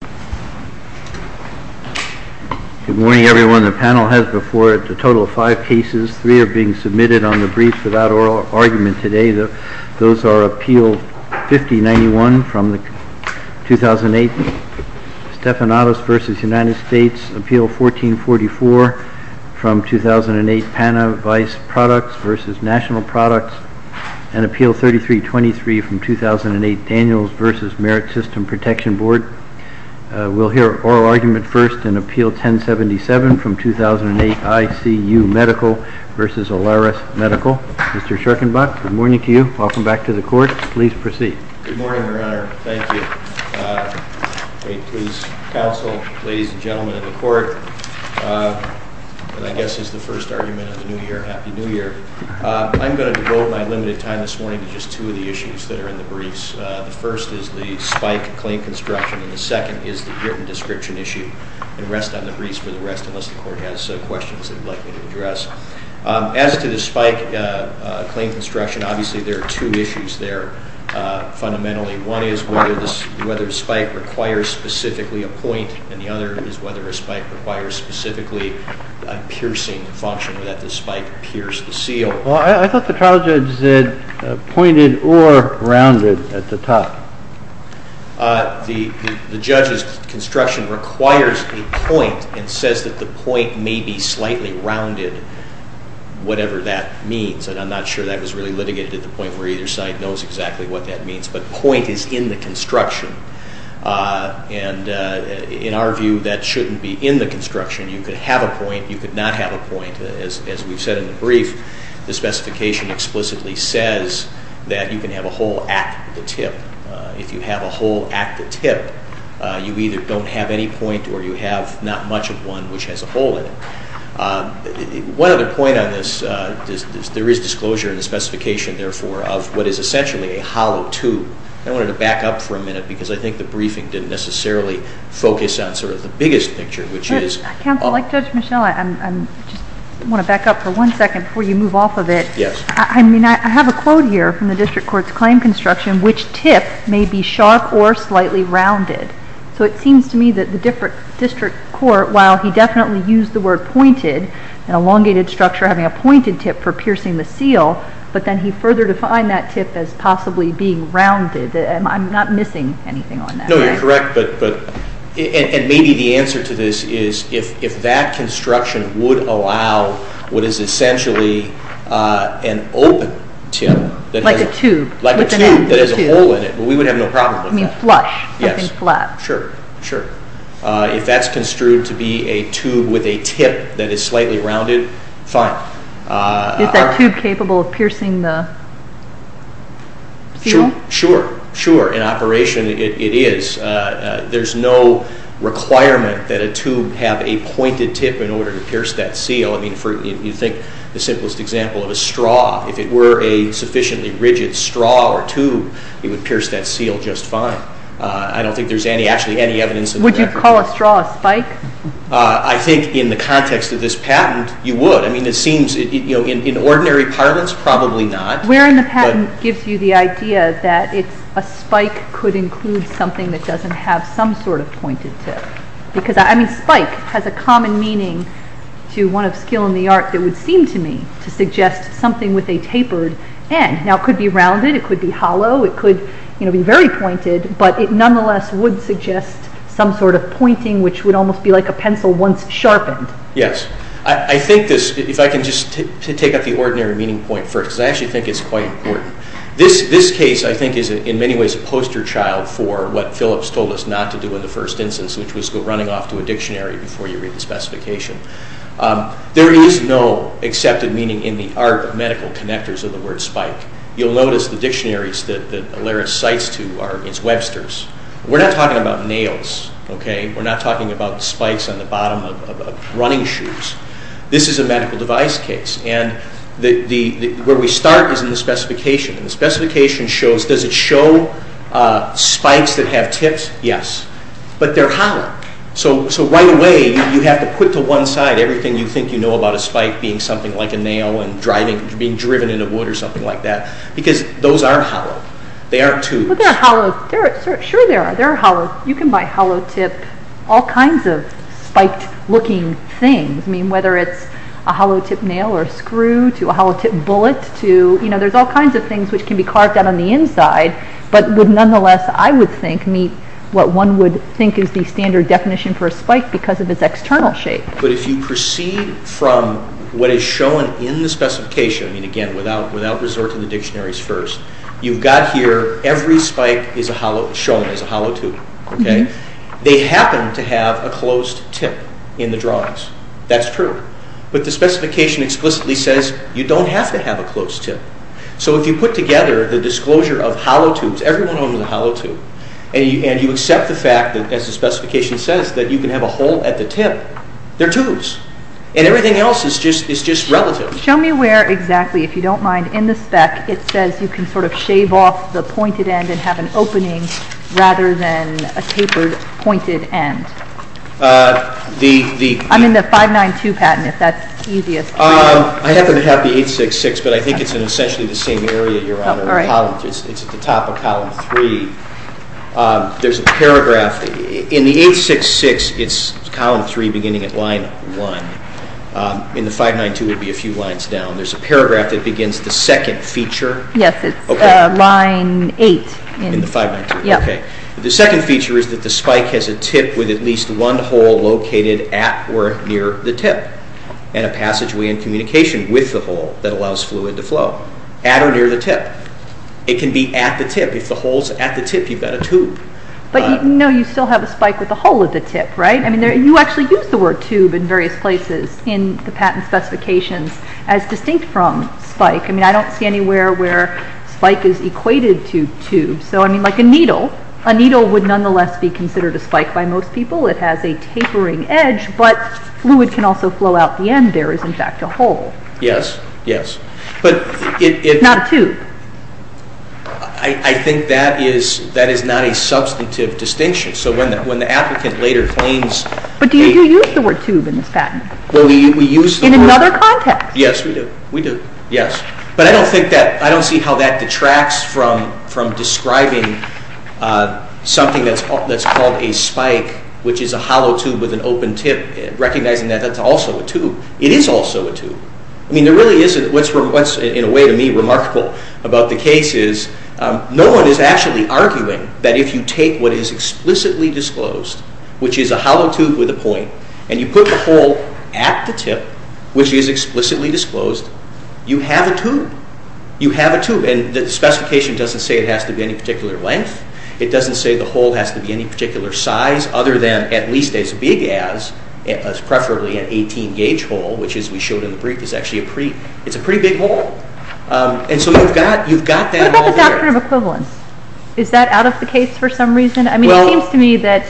Good morning, everyone. The panel has before it a total of five cases. Three are being submitted on the brief without oral argument today. Those are Appeal 5091 from 2008, Stephanatos v. United States, Appeal 1444 from 2008, Panavise Products v. National Products, and Appeal 3323 from 2008, Daniels v. Merit System Protection Board. We'll hear oral argument first in Appeal 1077 from 2008, ICU Medical v. Alaris Medical. Mr. Schorkenbach, good morning to you. Welcome back to the Court. Please proceed. Good morning, Your Honor. Thank you. Please, counsel, ladies and gentlemen of the Court, and I guess this is the first argument of the new year. Happy New Year. I'm going to devote a little bit of time this morning to just two of the issues that are in the briefs. The first is the spike claim construction, and the second is the written description issue. And rest on the briefs for the rest, unless the Court has questions that you'd like me to address. As to the spike claim construction, obviously there are two issues there fundamentally. One is whether a spike requires specifically a point, and the other is whether a spike requires specifically a piercing function, that the spike pierce the seal. Well, I thought the trial judge said pointed or rounded at the top. The judge's construction requires a point and says that the point may be slightly rounded, whatever that means. And I'm not sure that was really litigated at the point where either side knows exactly what that means. But point is in the construction. And in our view, that shouldn't be in the construction. You could have a point, you could not have a point, as we've said in the brief. The specification explicitly says that you can have a hole at the tip. If you have a hole at the tip, you either don't have any point or you have not much of one which has a hole in it. One other point on this is there is disclosure in the specification, therefore, of what is essentially a hollow tube. I wanted to back up for a minute because I think the briefing didn't necessarily focus on sort of the biggest picture, which is... I want to back up for one second before you move off of it. Yes. I mean, I have a quote here from the district court's claim construction, which tip may be sharp or slightly rounded. So it seems to me that the district court, while he definitely used the word pointed, an elongated structure having a pointed tip for piercing the seal, but then he further defined that tip as possibly being rounded. I'm not missing anything on that. No, you're correct. And maybe the answer to this is if that construction would allow what is essentially an open tip... Like a tube. Like a tube that has a hole in it, we would have no problem with that. You mean flush, something flat. Sure, sure. If that's construed to be a tube with a tip that is slightly rounded, fine. Is that tube capable of piercing the seal? Sure, sure. In operation, it is. There's no requirement that a tube have a pointed tip in order to pierce that seal. I mean, you think the simplest example of a straw, if it were a sufficiently rigid straw or tube, it would pierce that seal just fine. I don't think there's actually any evidence... Would you call a straw a spike? I think in the context of this patent, you would. I mean, it seems in ordinary parlance, probably not. Wearing the patent gives you the idea that a spike could include something that doesn't have some sort of pointed tip. I mean, spike has a common meaning to one of skill in the art that would seem to me to suggest something with a tapered end. Now, it could be rounded, it could be hollow, it could be very pointed, but it nonetheless would suggest some sort of pointing which would almost be like a pencil once sharpened. Yes. I think this, if I can just take up the ordinary meaning point first, because I actually think it's quite important. This case, I think, is in many ways a poster child for what Phillips told us not to do in the first instance, which was go running off to a dictionary before you read the specification. There is no accepted meaning in the art of medical connectors of the word spike. You'll notice the dictionaries that Alaris cites to are its Webster's. We're not talking about nails, okay? We're not talking about spikes on the bottom of running shoes. This is a medical device case, and where we start is in the specification, and the specification shows, does it show spikes that have tips? Yes. But they're hollow, so right away you have to put to one side everything you think you know about a spike being something like a nail and being driven into wood or something like that, because those aren't hollow. They aren't tubes. Sure they are. You can buy hollow-tip, all kinds of spiked-looking things, whether it's a hollow-tip nail or a screw to a hollow-tip bullet. There's all kinds of things which can be carved out on the inside, but would nonetheless, I would think, meet what one would think is the standard definition for a spike because of its external shape. But if you proceed from what is shown in the specification, again, without resorting to the fact that every spike is shown as a hollow tube, they happen to have a closed tip in the drawings. That's true. But the specification explicitly says you don't have to have a closed tip. So if you put together the disclosure of hollow tubes, every one of them is a hollow tube, and you accept the fact that, as the specification says, that you can have a hole at the tip, they're tubes, and everything else is just relative. Show me where exactly, if you don't mind, in the spec it says you can sort of shave off the pointed end and have an opening rather than a tapered, pointed end. I'm in the 592 patent, if that's easiest for you. I happen to have the 866, but I think it's in essentially the same area, Your Honor. It's at the top of column 3. There's a paragraph. In the 866, it's column 3 beginning at line 1. In the 592, it would be a few lines down. There's a paragraph that begins the second feature. Yes, it's line 8 in the 592. The second feature is that the spike has a tip with at least one hole located at or near the tip, and a passageway in communication with the hole that allows fluid to flow, at or near the tip. It can be at the tip. If the hole's at the tip, you've got a tube. But you still have a spike with a hole at the tip, right? You actually use the word tube in various places in the patent specifications as distinct from spike. I don't see anywhere where spike is equated to tube. So, I mean, like a needle. A needle would nonetheless be considered a spike by most people. It has a tapering edge, but fluid can also flow out the end. There is, in fact, a hole. Yes, yes. Not a tube. I think that is not a substantive distinction. So when the applicant later claims... But do you use the word tube in this patent? In another context. Yes, we do. We do. Yes. But I don't think that... I don't see how that detracts from describing something that's called a spike, which is a hollow tube with an open tip, recognizing that that's also a tube. It is also a tube. I mean, there really isn't... What's, in a way, to me, remarkable about the case is no one is actually arguing that if you take what is explicitly disclosed, which is a hollow tube with a point, and you put the hole at the tip, which is explicitly disclosed, you have a tube. You have a tube. And the specification doesn't say it has to be any particular length. It doesn't say the hole has to be any particular size other than at least as big as, preferably an 18-gauge hole, which as we showed in the brief is actually a pretty... It's a pretty big hole. And so you've got that all there. What about the doctrine of equivalence? Is that out of the case for some reason? I mean, it seems to me that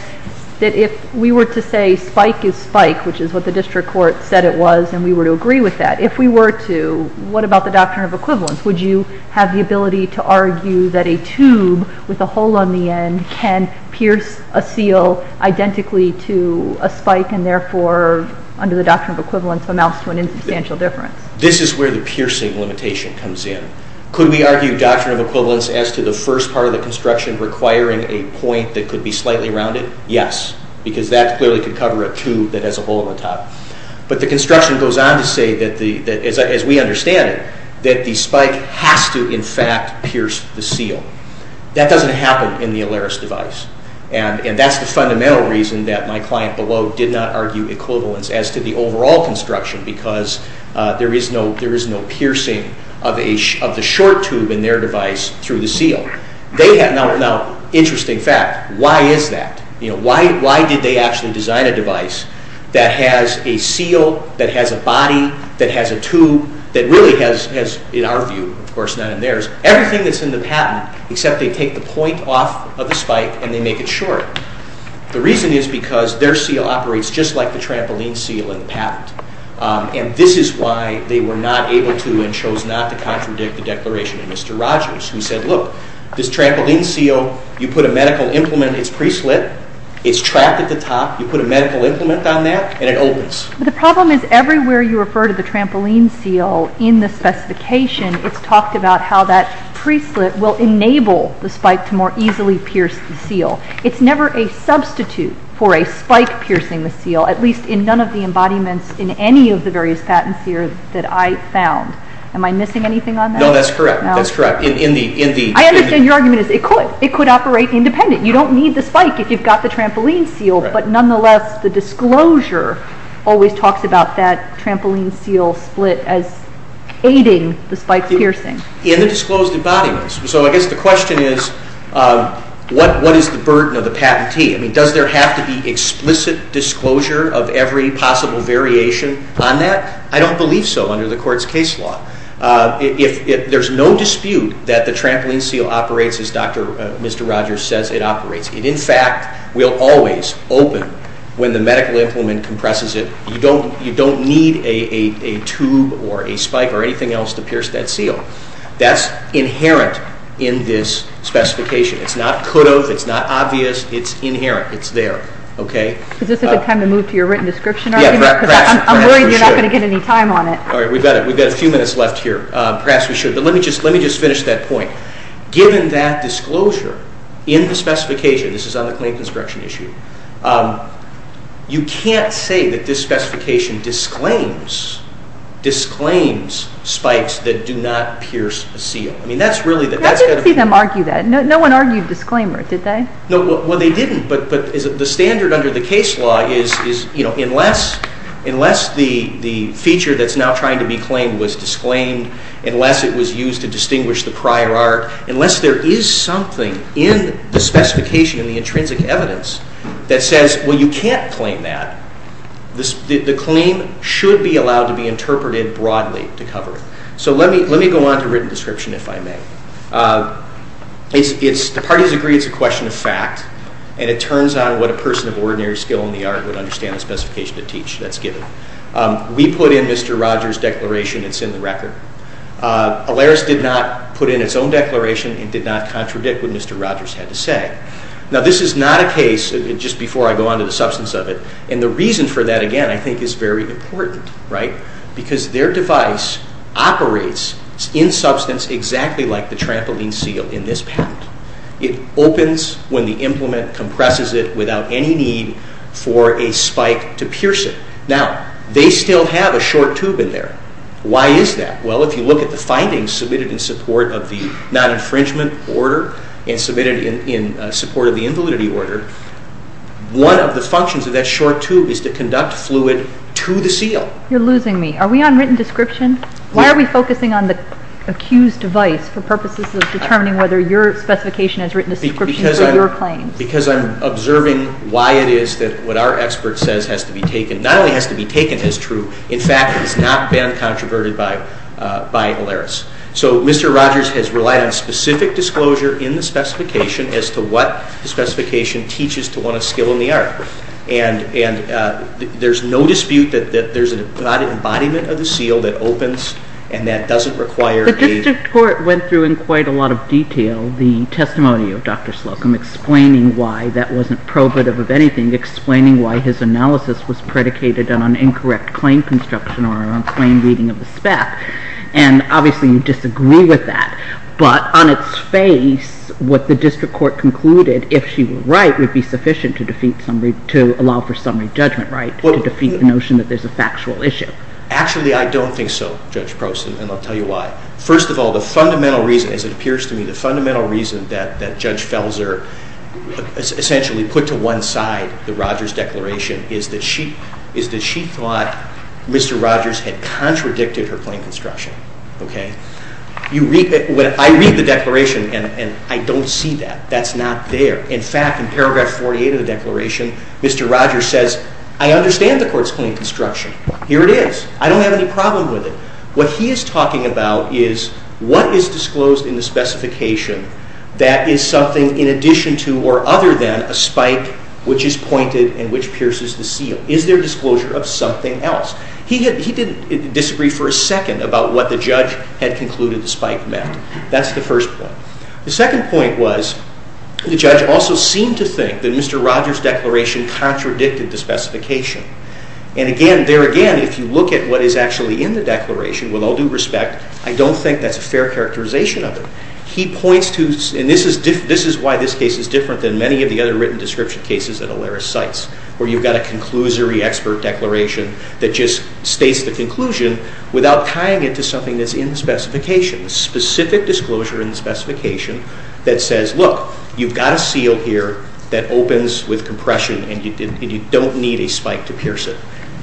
if we were to say spike is spike, which is what the district court said it was, and we were to agree with that, if we were to, what about the doctrine of equivalence? Would you have the ability to argue that a tube with a hole on the end can pierce a seal identically to a spike and therefore, under the doctrine of equivalence, amounts to an insubstantial difference? This is where the piercing limitation comes in. Could we argue doctrine of equivalence as to the first part of the construction requiring a point that could be slightly rounded? Yes, because that clearly could cover a tube that has a hole in the top. But the construction goes on to say that, as we understand it, that the spike has to in fact pierce the seal. That doesn't happen in the Alaris device. And that's the fundamental reason that my client below did not argue equivalence as to the overall construction because there is no piercing of the short tube in their device through the seal. Now, interesting fact, why is that? Why did they actually design a device that has a seal, that has a body, that has a tube, that really has, in our view, of course not in theirs, everything that's in the patent except they take the point off of the spike and they make it short. The reason is because their seal operates just like the trampoline seal in and this is why they were not able to and chose not to contradict the declaration of Mr. Rogers who said, look, this trampoline seal, you put a medical implement in its pre-slit, it's trapped at the top, you put a medical implement on that and it opens. The problem is everywhere you refer to the trampoline seal in the specification, it's talked about how that pre-slit will enable the spike to more easily pierce the seal. It's never a substitute for a spike piercing the seal, at least in none of the embodiments in any of the various patents here that I found. Am I missing anything on that? No, that's correct. I understand your argument is it could. It could operate independent. You don't need the spike if you've got the trampoline seal, but nonetheless the disclosure always talks about that trampoline seal split as aiding the spike piercing. In the disclosed embodiments. So I guess the question is what is the burden of the patentee? Does there have to be explicit disclosure of every possible variation on that? I don't believe so under the court's case law. There's no dispute that the trampoline seal operates as Mr. Rogers says it operates. It in fact will always open when the medical implement compresses it. You don't need a tube or a spike or anything else to pierce that seal. That's inherent in this specification. It's not could of. It's not obvious. It's inherent. It's there. Is this a good time to move to your written description argument? I'm worried you're not going to get any time on it. We've got a few minutes left here. Perhaps we should. Let me just finish that point. Given that disclosure in the specification, this is on the clean construction issue, you can't say that this specification disclaims spikes that do not pierce a seal. I didn't see them argue that. No one argued disclaimer, did they? They didn't, but the standard under the case law is unless the feature that's now trying to be claimed was disclaimed, unless it was used to distinguish the prior art, unless there is something in the specification, in the intrinsic evidence, that says you can't claim that, the claim should be allowed to be interpreted broadly to cover it. Let me go on to written description, if I may. The parties agree it's a question of fact, and it turns on what a person of ordinary skill in the art would understand the specification to teach that's given. We put in Mr. Rogers' declaration. It's in the record. ALERIS did not put in its own declaration and did not contradict what Mr. Rogers had to say. Now, this is not a case, just before I go on to the substance of it, and the reason for that, again, I think is very important. Because their device operates in substance exactly like the trampoline seal in this patent. It opens when the implement compresses it without any need for a spike to pierce it. Now, they still have a short tube in there. Why is that? Well, if you look at the findings submitted in support of the non-infringement order and submitted in support of the invalidity order, one of the functions of that short tube is to conduct fluid to the seal. You're losing me. Are we on written description? Why are we focusing on the accused device for purposes of determining whether your specification has written a description for your claims? Because I'm observing why it is that what our expert says has to be taken. Not only has to be taken as true, in fact, it has not been controverted by ALERIS. So Mr. Rogers has relied on specific disclosure in the specification as to what the specification teaches to one of skill in the art. And there's no dispute that there's an embodiment of the seal that opens and that doesn't require a... The district court went through in quite a lot of detail the testimony of Dr. Slocum, explaining why that wasn't probative of anything, explaining why his analysis was predicated on an incorrect claim construction or on claim reading of the SPAC. And obviously you disagree with that. But on its face, what the district court concluded, if she were right, would be sufficient to allow for summary judgment, right? To defeat the notion that there's a factual issue. Actually, I don't think so, Judge Prost, and I'll tell you why. First of all, the fundamental reason, as it appears to me, the fundamental reason that Judge Felzer essentially put to one side the Rogers declaration is that she thought Mr. Rogers had contradicted her claim construction. I read the declaration and I don't see that. That's not there. In fact, in paragraph 48 of the declaration, Mr. Rogers says, I understand the court's claim construction. Here it is. I don't have any problem with it. What he is talking about is what is disclosed in the specification that is something in addition to or other than a spike which is pointed and which pierces the seal. Is there disclosure of something else? He didn't disagree for a second about what the judge had concluded the spike meant. That's the first point. The second point was the judge also seemed to think that Mr. Rogers' declaration contradicted the specification. And again, there again, if you look at what is actually in the declaration, with all due respect, I don't think that's a fair characterization of it. He points to, and this is why this case is different than many of the other written description cases that Olaris cites, where you've got a conclusory expert declaration that just states the conclusion without tying it to something that's in the specification, specific disclosure in the specification that says, look, you've got a seal here that opens with compression and you don't need a spike to pierce it.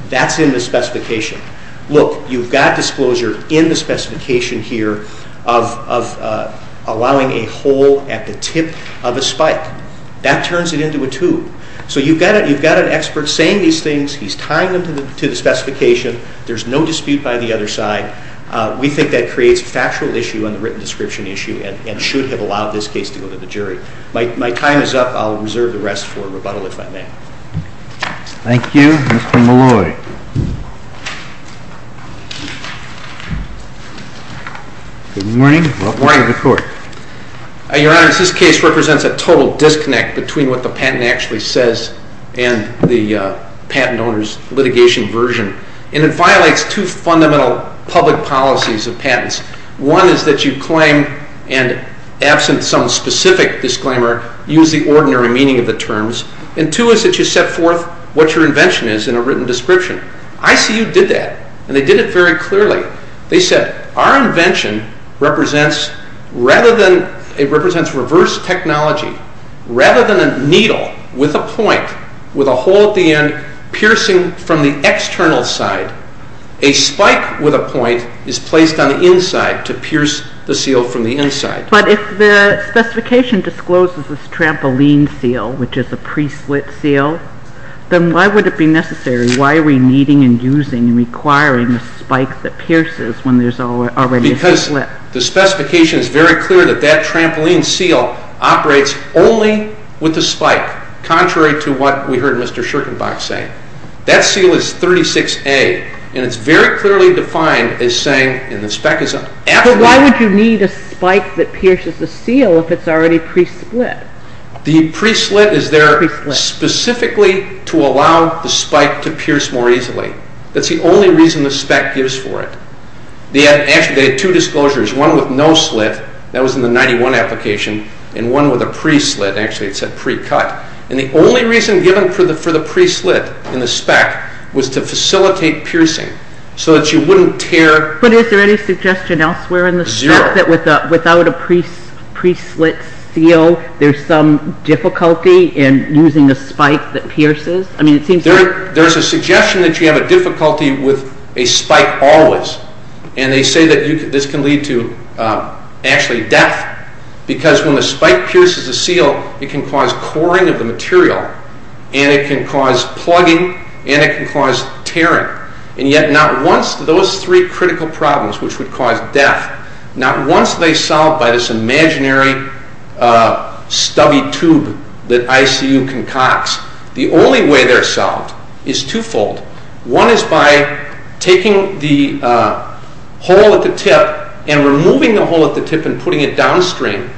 That's in the specification. Look, you've got disclosure in the specification here of allowing a hole at the tip of a spike. That turns it into a tube. So you've got an expert saying these things. He's tying them to the specification. There's no dispute by the other side. We think that creates a factual issue on the written description issue and should have allowed this case to go to the jury. My time is up. I'll reserve the rest for rebuttal if I may. Thank you. Mr. Malloy. Good morning. Good morning to the Court. Your Honor, this case represents a total disconnect between what the patent actually says and the patent owner's litigation version, and it violates two fundamental public policies of patents. One is that you claim, and absent some specific disclaimer, use the ordinary meaning of the terms. And two is that you set forth what your invention is in a written description. ICU did that, and they did it very clearly. They said our invention represents reverse technology. Rather than a needle with a point with a hole at the end piercing from the external side, a spike with a point is placed on the inside to pierce the seal from the inside. But if the specification discloses this trampoline seal, which is a pre-slit seal, then why would it be necessary? Why are we needing and using and requiring a spike that pierces when there's already a slit? Because the specification is very clear that that trampoline seal operates only with a spike, contrary to what we heard Mr. Schirkenbach say. That seal is 36A, and it's very clearly defined as saying, and the spec is after that. So why would you need a spike that pierces the seal if it's already pre-slit? The pre-slit is there specifically to allow the spike to pierce more easily. That's the only reason the spec gives for it. Actually, they had two disclosures, one with no slit, that was in the 91 application, and one with a pre-slit, actually it said pre-cut. And the only reason given for the pre-slit in the spec was to facilitate piercing, so that you wouldn't tear. But is there any suggestion elsewhere in the spec that without a pre-slit seal, there's some difficulty in using a spike that pierces? There's a suggestion that you have a difficulty with a spike always, and they say that this can lead to actually death, because when the spike pierces the seal, it can cause coring of the material, and it can cause plugging, and it can cause tearing. And yet not once do those three critical problems, which would cause death, not once are they solved by this imaginary stubby tube that ICU concocts. The only way they're solved is twofold. One is by taking the hole at the tip and removing the hole at the tip and putting it downstream.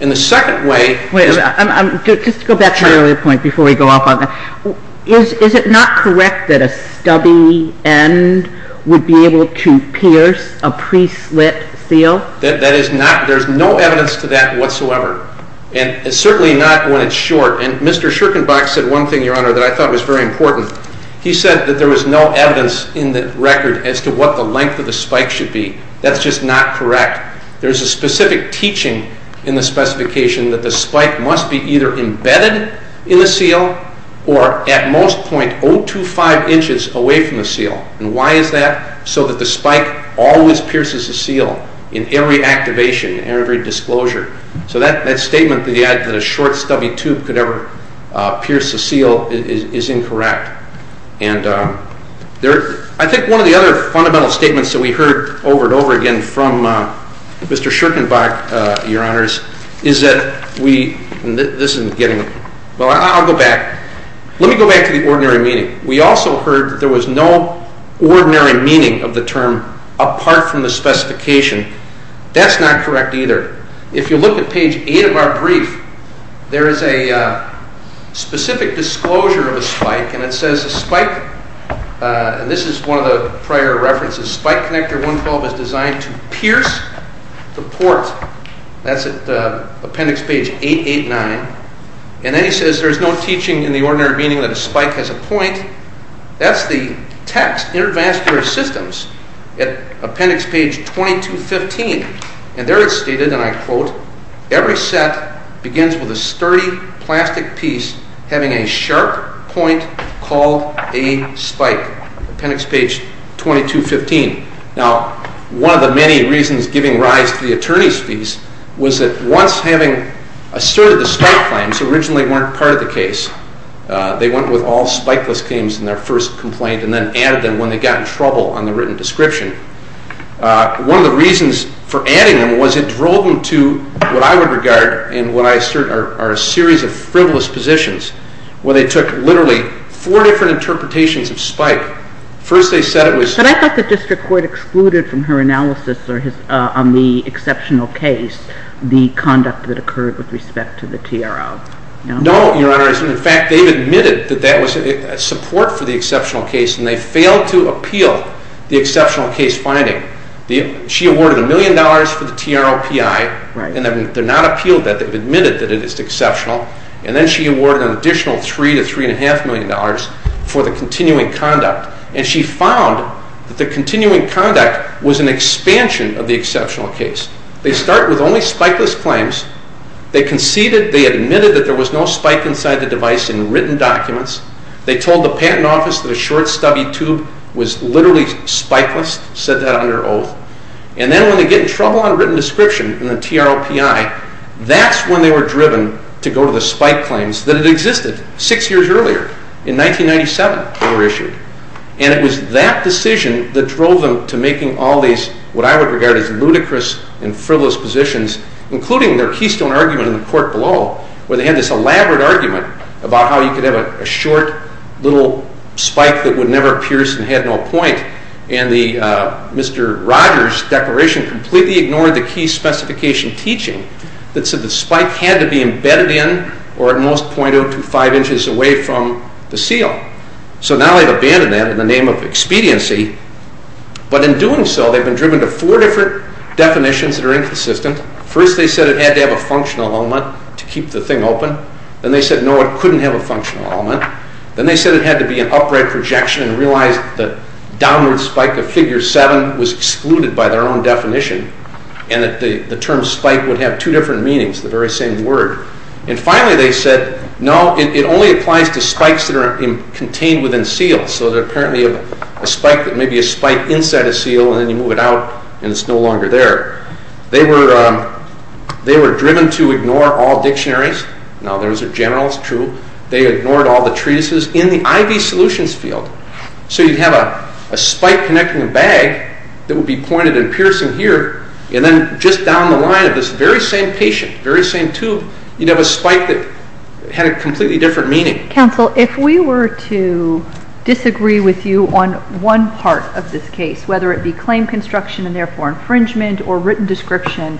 And the second way is... Wait, just to go back to my earlier point before we go off on that. Is it not correct that a stubby end would be able to pierce a pre-slit seal? There's no evidence to that whatsoever, and certainly not when it's short. And Mr. Schirkenbach said one thing, Your Honor, that I thought was very important. He said that there was no evidence in the record as to what the length of the spike should be. That's just not correct. There's a specific teaching in the specification that the spike must be either embedded in the seal or at most 0.025 inches away from the seal. And why is that? So that the spike always pierces the seal in every activation, in every disclosure. So that statement that a short stubby tube could ever pierce a seal is incorrect. And I think one of the other fundamental statements that we heard over and over again from Mr. Schirkenbach, Your Honors, is that we... This isn't getting... Well, I'll go back. Let me go back to the ordinary meaning. We also heard that there was no ordinary meaning of the term apart from the specification. That's not correct either. If you look at page 8 of our brief, there is a specific disclosure of a spike, and it says a spike... And this is one of the prior references. Spike connector 112 is designed to pierce the port. That's at appendix page 889. And then he says there's no teaching in the ordinary meaning that a spike has a point. That's the text, intervascular systems, at appendix page 2215. And there it's stated, and I quote, Every set begins with a sturdy plastic piece having a sharp point called a spike. Appendix page 2215. Now, one of the many reasons giving rise to the attorney's fees was that once having asserted the spike claims originally weren't part of the case, they went with all spikeless claims in their first complaint and then added them when they got in trouble on the written description. One of the reasons for adding them was it drove them to what I would regard and what I assert are a series of frivolous positions where they took literally four different interpretations of spike. First they said it was... But I thought the district court excluded from her analysis on the exceptional case the conduct that occurred with respect to the TRO. No, Your Honor. In fact, they've admitted that that was support for the exceptional case, and they failed to appeal the exceptional case finding. She awarded $1 million for the TRO PI, and they've not appealed that. They've admitted that it is exceptional. And then she awarded an additional $3 to $3.5 million for the continuing conduct. And she found that the continuing conduct was an expansion of the exceptional case. They start with only spikeless claims. They conceded. They admitted that there was no spike inside the device in written documents. They told the patent office that a short stubby tube was literally spikeless, said that under oath. And then when they get in trouble on written description in the TRO PI, that's when they were driven to go to the spike claims that had existed six years earlier. In 1997 they were issued. And it was that decision that drove them to making all these what I would regard as ludicrous and frivolous positions, including their keystone argument in the court below where they had this elaborate argument about how you could have a short little spike that would never pierce and had no point. And Mr. Rogers' declaration completely ignored the key specification teaching that said the spike had to be embedded in or at most 0.025 inches away from the seal. So now they've abandoned that in the name of expediency. But in doing so, they've been driven to four different definitions that are inconsistent. First they said it had to have a functional element to keep the thing open. Then they said no, it couldn't have a functional element. Then they said it had to be an upright projection and realized that downward spike of figure seven was excluded by their own definition and that the term spike would have two different meanings, the very same word. And finally they said no, it only applies to spikes that are contained within seals. So apparently a spike that may be a spike inside a seal and then you move it out and it's no longer there. They were driven to ignore all dictionaries. Now those are generals, true. They ignored all the treatises in the IV solutions field. So you'd have a spike connecting a bag that would be pointed and piercing here and then just down the line of this very same patient, very same tube, you'd have a spike that had a completely different meaning. Counsel, if we were to disagree with you on one part of this case, whether it be claim construction and therefore infringement or written description,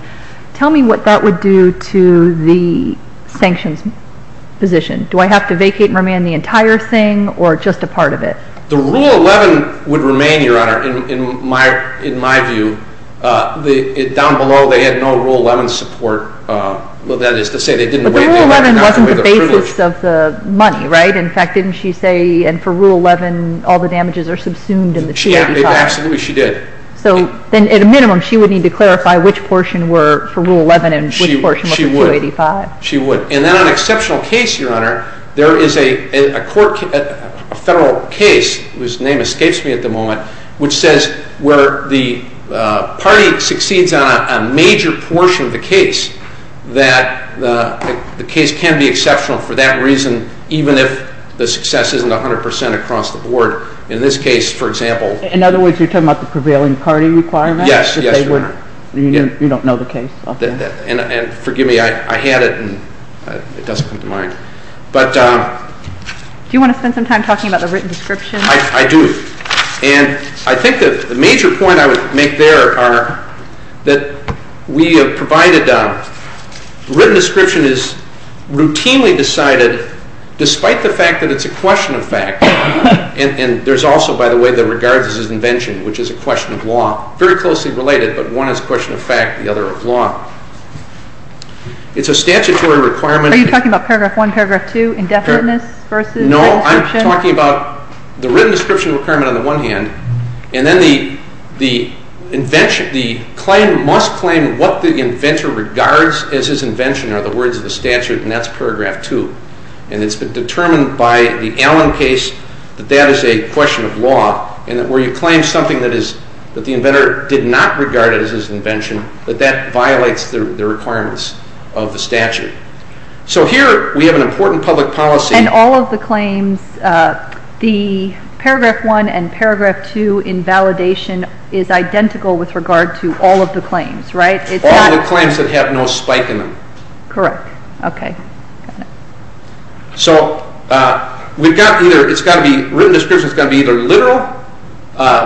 tell me what that would do to the sanctions position. Do I have to vacate and remand the entire thing or just a part of it? The Rule 11 would remain, Your Honor, in my view. Down below they had no Rule 11 support. That is to say they didn't weigh the privilege. But the Rule 11 wasn't the basis of the money, right? In fact, didn't she say for Rule 11 all the damages are subsumed in the 285? Absolutely, she did. So then at a minimum she would need to clarify which portion were for Rule 11 and which portion was for 285. She would. And then on an exceptional case, Your Honor, there is a federal case, whose name escapes me at the moment, which says where the party succeeds on a major portion of the case that the case can be exceptional for that reason even if the success isn't 100% across the board. In this case, for example. In other words, you're talking about the prevailing party requirements? Yes. You don't know the case. And forgive me, I had it and it doesn't come to mind. Do you want to spend some time talking about the written description? I do. And I think the major point I would make there are that we have provided written description is routinely decided despite the fact that it's a question of fact. And there's also, by the way, the regards as his invention, which is a question of law. Very closely related, but one is a question of fact, the other of law. It's a statutory requirement. Are you talking about Paragraph 1, Paragraph 2, indefiniteness versus written description? No, I'm talking about the written description requirement on the one hand, and then the claim must claim what the inventor regards as his invention are the words of the statute, and that's Paragraph 2. And it's been determined by the Allen case that that is a question of law and that where you claim something that the inventor did not regard as his invention, that that violates the requirements of the statute. So here we have an important public policy. And all of the claims, the Paragraph 1 and Paragraph 2 invalidation is identical with regard to all of the claims, right? All of the claims that have no spike in them. Correct. Okay. Got it. So we've got either it's got to be written description, it's got to be either literal,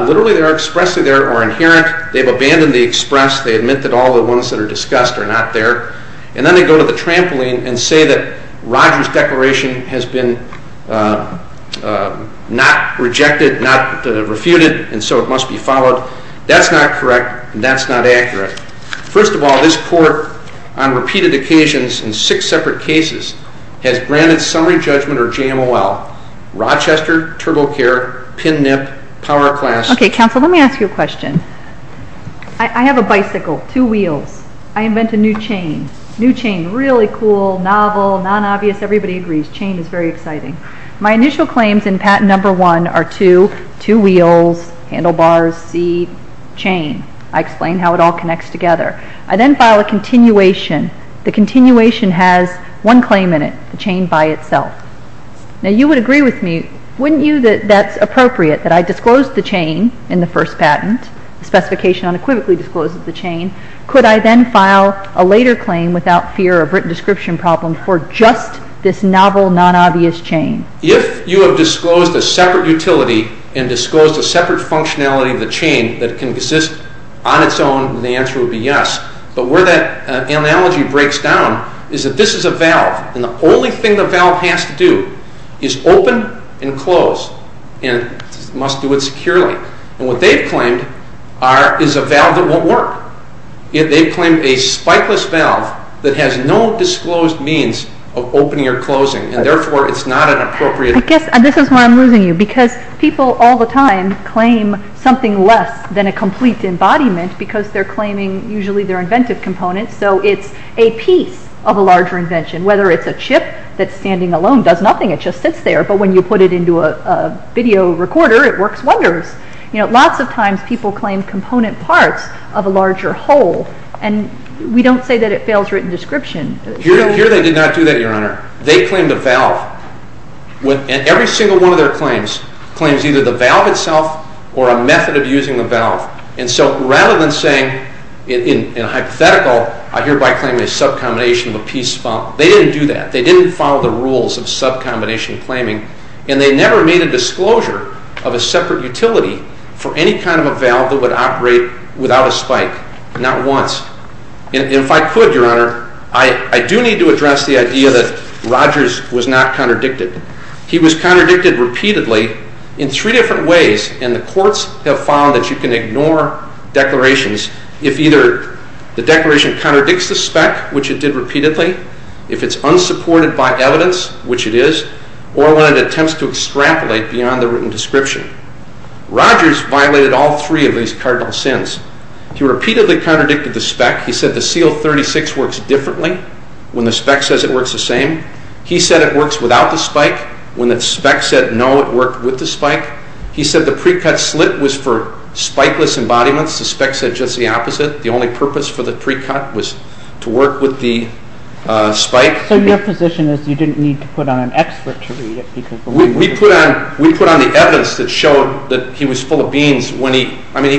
literally they are expressly there or inherent, they've abandoned the express, they admit that all the ones that are discussed are not there, and then they go to the trampoline and say that Roger's declaration has been not rejected, not refuted, and so it must be followed. That's not correct, and that's not accurate. Okay. First of all, this court on repeated occasions in six separate cases has granted summary judgment or JMOL, Rochester, TurboCare, PNIP, PowerClass. Okay, counsel, let me ask you a question. I have a bicycle, two wheels. I invent a new chain. New chain, really cool, novel, non-obvious, everybody agrees. Chain is very exciting. My initial claims in patent number one are two, two wheels, handlebars, seat, chain. I explain how it all connects together. I then file a continuation. The continuation has one claim in it, the chain by itself. Now you would agree with me, wouldn't you, that that's appropriate, that I disclosed the chain in the first patent, the specification unequivocally discloses the chain. Could I then file a later claim without fear of written description problem for just this novel, non-obvious chain? If you have disclosed a separate utility and disclosed a separate functionality of the chain that can exist on its own, the answer would be yes. But where that analogy breaks down is that this is a valve, and the only thing the valve has to do is open and close, and it must do it securely. And what they've claimed is a valve that won't work. They've claimed a spikeless valve that has no disclosed means of opening or closing, and therefore it's not an appropriate. I guess this is where I'm losing you, because people all the time claim something less than a complete embodiment because they're claiming usually their inventive components, so it's a piece of a larger invention, whether it's a chip that's standing alone, does nothing, it just sits there, but when you put it into a video recorder, it works wonders. Lots of times people claim component parts of a larger whole, and we don't say that it fails written description. Here they did not do that, Your Honor. They claimed a valve, and every single one of their claims claims either the valve itself or a method of using the valve. And so rather than saying in a hypothetical, I hereby claim a sub-combination of a piece of a valve, they didn't do that. They didn't follow the rules of sub-combination claiming, and they never made a disclosure of a separate utility for any kind of a valve that would operate without a spike, not once. And if I could, Your Honor, I do need to address the idea that Rogers was not contradicted. He was contradicted repeatedly in three different ways, and the courts have found that you can ignore declarations if either the declaration contradicts the spec, which it did repeatedly, if it's unsupported by evidence, which it is, or when it attempts to extrapolate beyond the written description. Rogers violated all three of these cardinal sins. He repeatedly contradicted the spec. He said the CL-36 works differently when the spec says it works the same. He said it works without the spike when the spec said no, it worked with the spike. He said the pre-cut slit was for spikeless embodiments. The spec said just the opposite. The only purpose for the pre-cut was to work with the spike. So your position is you didn't need to put on an expert to read it? We put on the evidence that showed that he was full of beans. He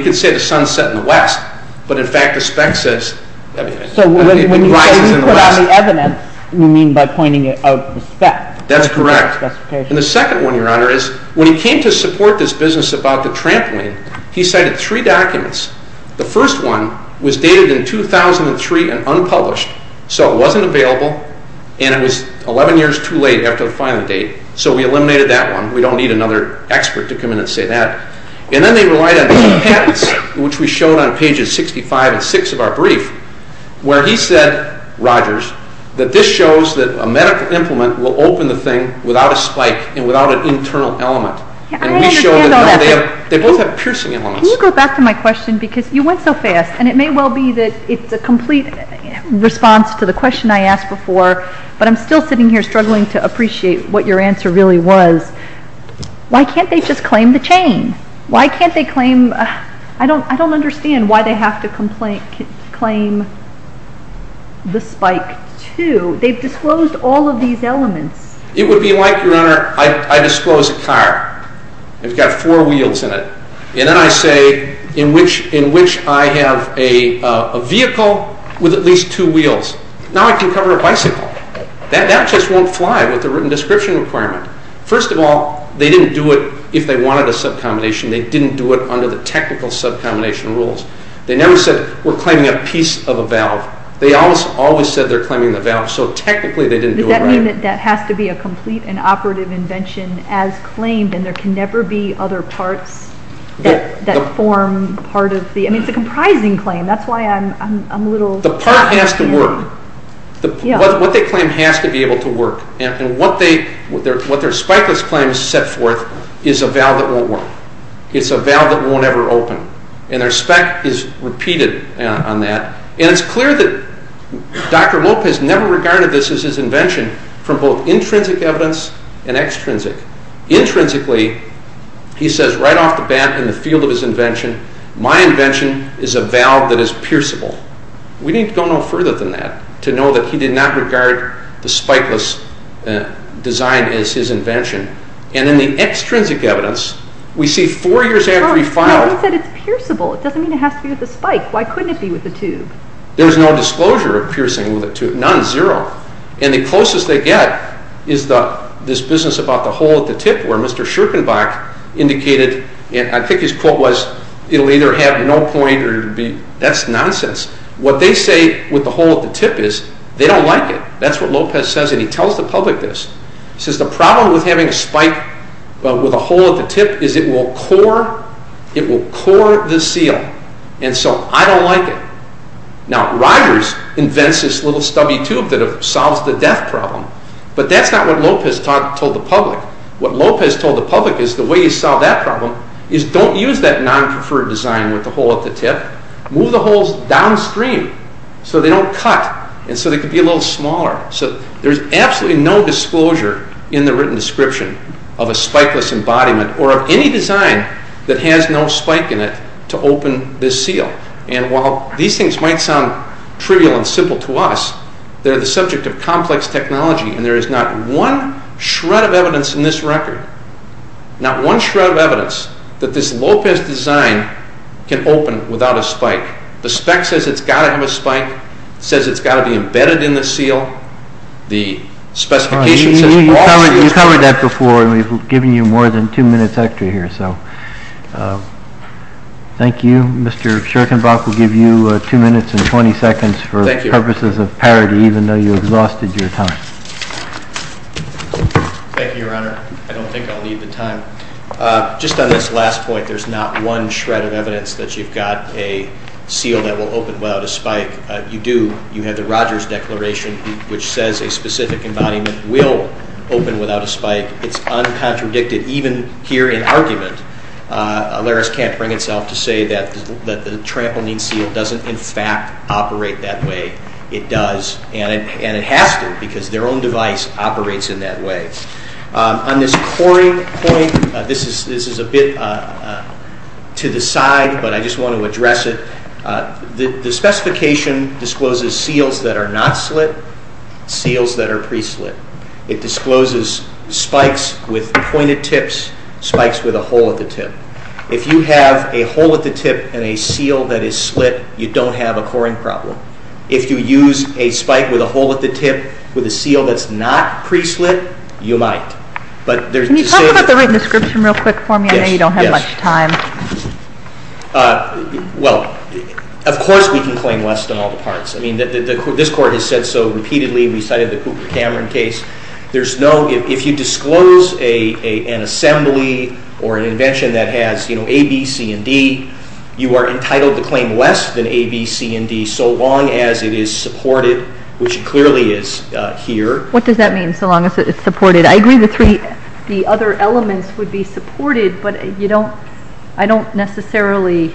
could say the sun set in the west, but in fact the spec says it rises in the west. So when you say you put on the evidence, you mean by pointing out the spec? That's correct. And the second one, Your Honor, is when he came to support this business about the trampoline, he cited three documents. The first one was dated in 2003 and unpublished, so it wasn't available, and it was 11 years too late after the filing date, so we eliminated that one. We don't need another expert to come in and say that. And then they relied on patents, which we showed on pages 65 and 66 of our brief, where he said, Rogers, that this shows that a medical implement will open the thing without a spike and without an internal element. And we showed that they both have piercing elements. Can you go back to my question because you went so fast, and it may well be that it's a complete response to the question I asked before, but I'm still sitting here struggling to appreciate what your answer really was. Why can't they just claim the chain? Why can't they claim? I don't understand why they have to claim the spike too. They've disclosed all of these elements. It would be like, Your Honor, I disclose a car. It's got four wheels in it. And then I say in which I have a vehicle with at least two wheels. Now I can cover a bicycle. That just won't fly with the written description requirement. First of all, they didn't do it if they wanted a sub-combination. They didn't do it under the technical sub-combination rules. They never said, We're claiming a piece of a valve. They always said they're claiming the valve. So technically they didn't do it right. Does that mean that that has to be a complete and operative invention as claimed, and there can never be other parts that form part of the – I mean, it's a comprising claim. That's why I'm a little – The part has to work. What they claim has to be able to work. And what their spikeless claims set forth is a valve that won't work. It's a valve that won't ever open. And their spec is repeated on that. And it's clear that Dr. Lopez never regarded this as his invention from both intrinsic evidence and extrinsic. Intrinsically, he says right off the bat in the field of his invention, My invention is a valve that is pierceable. We need to go no further than that to know that he did not regard the spikeless design as his invention. And in the extrinsic evidence, we see four years after he filed – But he said it's pierceable. It doesn't mean it has to be with a spike. Why couldn't it be with a tube? There's no disclosure of piercing with a tube. None, zero. And the closest they get is this business about the hole at the tip where Mr. Schirkenbach indicated – I think his quote was, It'll either have no point or it'll be – That's nonsense. What they say with the hole at the tip is they don't like it. That's what Lopez says. And he tells the public this. He says the problem with having a spike with a hole at the tip is it will core the seal. And so I don't like it. Now, Rogers invents this little stubby tube that solves the death problem. But that's not what Lopez told the public. What Lopez told the public is the way you solve that problem is don't use that non-preferred design with the hole at the tip. Move the holes downstream so they don't cut and so they can be a little smaller. So there's absolutely no disclosure in the written description of a spikeless embodiment or of any design that has no spike in it to open this seal. And while these things might sound trivial and simple to us, they're the subject of complex technology, and there is not one shred of evidence in this record, not one shred of evidence, that this Lopez design can open without a spike. The spec says it's got to have a spike. It says it's got to be embedded in the seal. The specification says all seals can open. You covered that before, and we've given you more than 2 minutes extra here. Thank you. Mr. Scherkenbach will give you 2 minutes and 20 seconds for purposes of parity, even though you exhausted your time. Thank you, Your Honor. I don't think I'll need the time. Just on this last point, there's not one shred of evidence that you've got a seal that will open without a spike. You do. You have the Rogers Declaration, which says a specific embodiment will open without a spike. It's uncontradicted. Even here in argument, Laris can't bring itself to say that the trampoline seal doesn't in fact operate that way. It does, and it has to, because their own device operates in that way. On this coring point, this is a bit to the side, but I just want to address it. The specification discloses seals that are not slit, seals that are pre-slit. It discloses spikes with pointed tips, spikes with a hole at the tip. If you have a hole at the tip and a seal that is slit, you don't have a coring problem. If you use a spike with a hole at the tip with a seal that's not pre-slit, you might. Can you talk about the written description real quick for me? I know you don't have much time. Well, of course we can claim less than all the parts. This Court has said so repeatedly. We cited the Cooper Cameron case. If you disclose an assembly or an invention that has A, B, C, and D, you are entitled to claim less than A, B, C, and D so long as it is supported, which it clearly is here. What does that mean, so long as it is supported? I agree the other elements would be supported, but I don't necessarily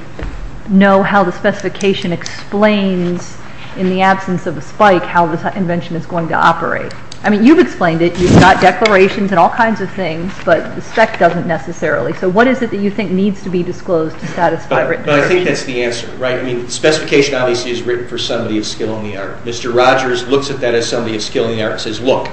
know how the specification explains, in the absence of a spike, how the invention is going to operate. I mean, you've explained it. You've got declarations and all kinds of things, but the spec doesn't necessarily. So what is it that you think needs to be disclosed to satisfy written declaration? I think that's the answer. Specification, obviously, is written for somebody of skill in the art. Mr. Rogers looks at that as somebody of skill in the art and says, look,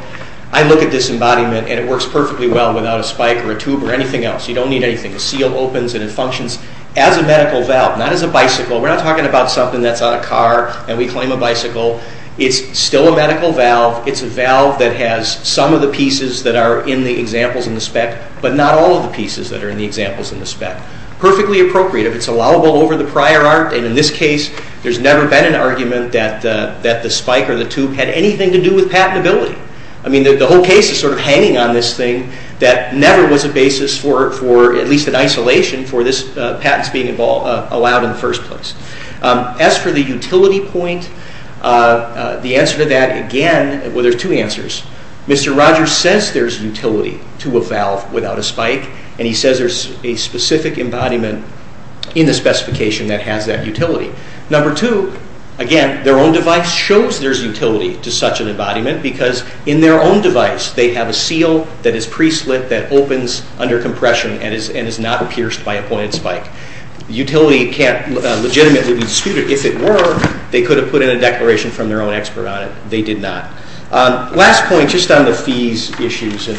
I look at this embodiment and it works perfectly well without a spike or a tube or anything else. You don't need anything. The seal opens and it functions as a medical valve, not as a bicycle. We're not talking about something that's on a car and we claim a bicycle. It's still a medical valve. It's a valve that has some of the pieces that are in the examples in the spec, but not all of the pieces that are in the examples in the spec. Perfectly appropriate if it's allowable over the prior art, and in this case there's never been an argument that the spike or the tube had anything to do with patentability. I mean, the whole case is sort of hanging on this thing that never was a basis for at least an isolation for this patent being allowed in the first place. As for the utility point, the answer to that, again, well, there's two answers. Mr. Rogers says there's utility to a valve without a spike, and he says there's a specific embodiment in the specification that has that utility. Number two, again, their own device shows there's utility to such an embodiment because in their own device they have a seal that is pre-slit that opens under compression and is not pierced by a pointed spike. Utility can't legitimately be disputed. If it were, they could have put in a declaration from their own expert on it. They did not. Last point, just on the fees issues, and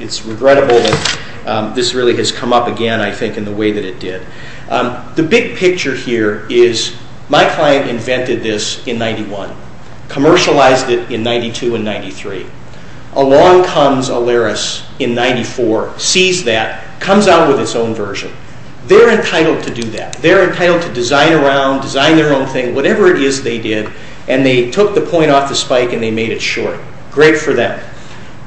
it's regrettable that this really has come up again, I think, in the way that it did. The big picture here is my client invented this in 1991, commercialized it in 1992 and 1993. Along comes Alaris in 1994, sees that, comes out with its own version. They're entitled to do that. They're entitled to design around, design their own thing, whatever it is they did, and they took the point off the spike and they made it short. Great for them.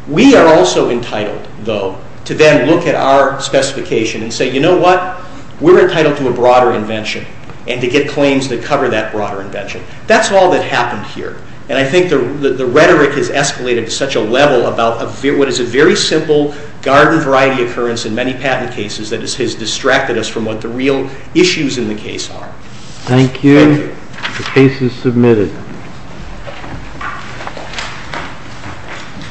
We are also entitled, though, to then look at our specification and say, you know what, we're entitled to a broader invention and to get claims that cover that broader invention. That's all that happened here, and I think the rhetoric has escalated to such a level about what is a very simple garden variety occurrence in many patent cases that has distracted us from what the real issues in the case are. Thank you. The case is submitted.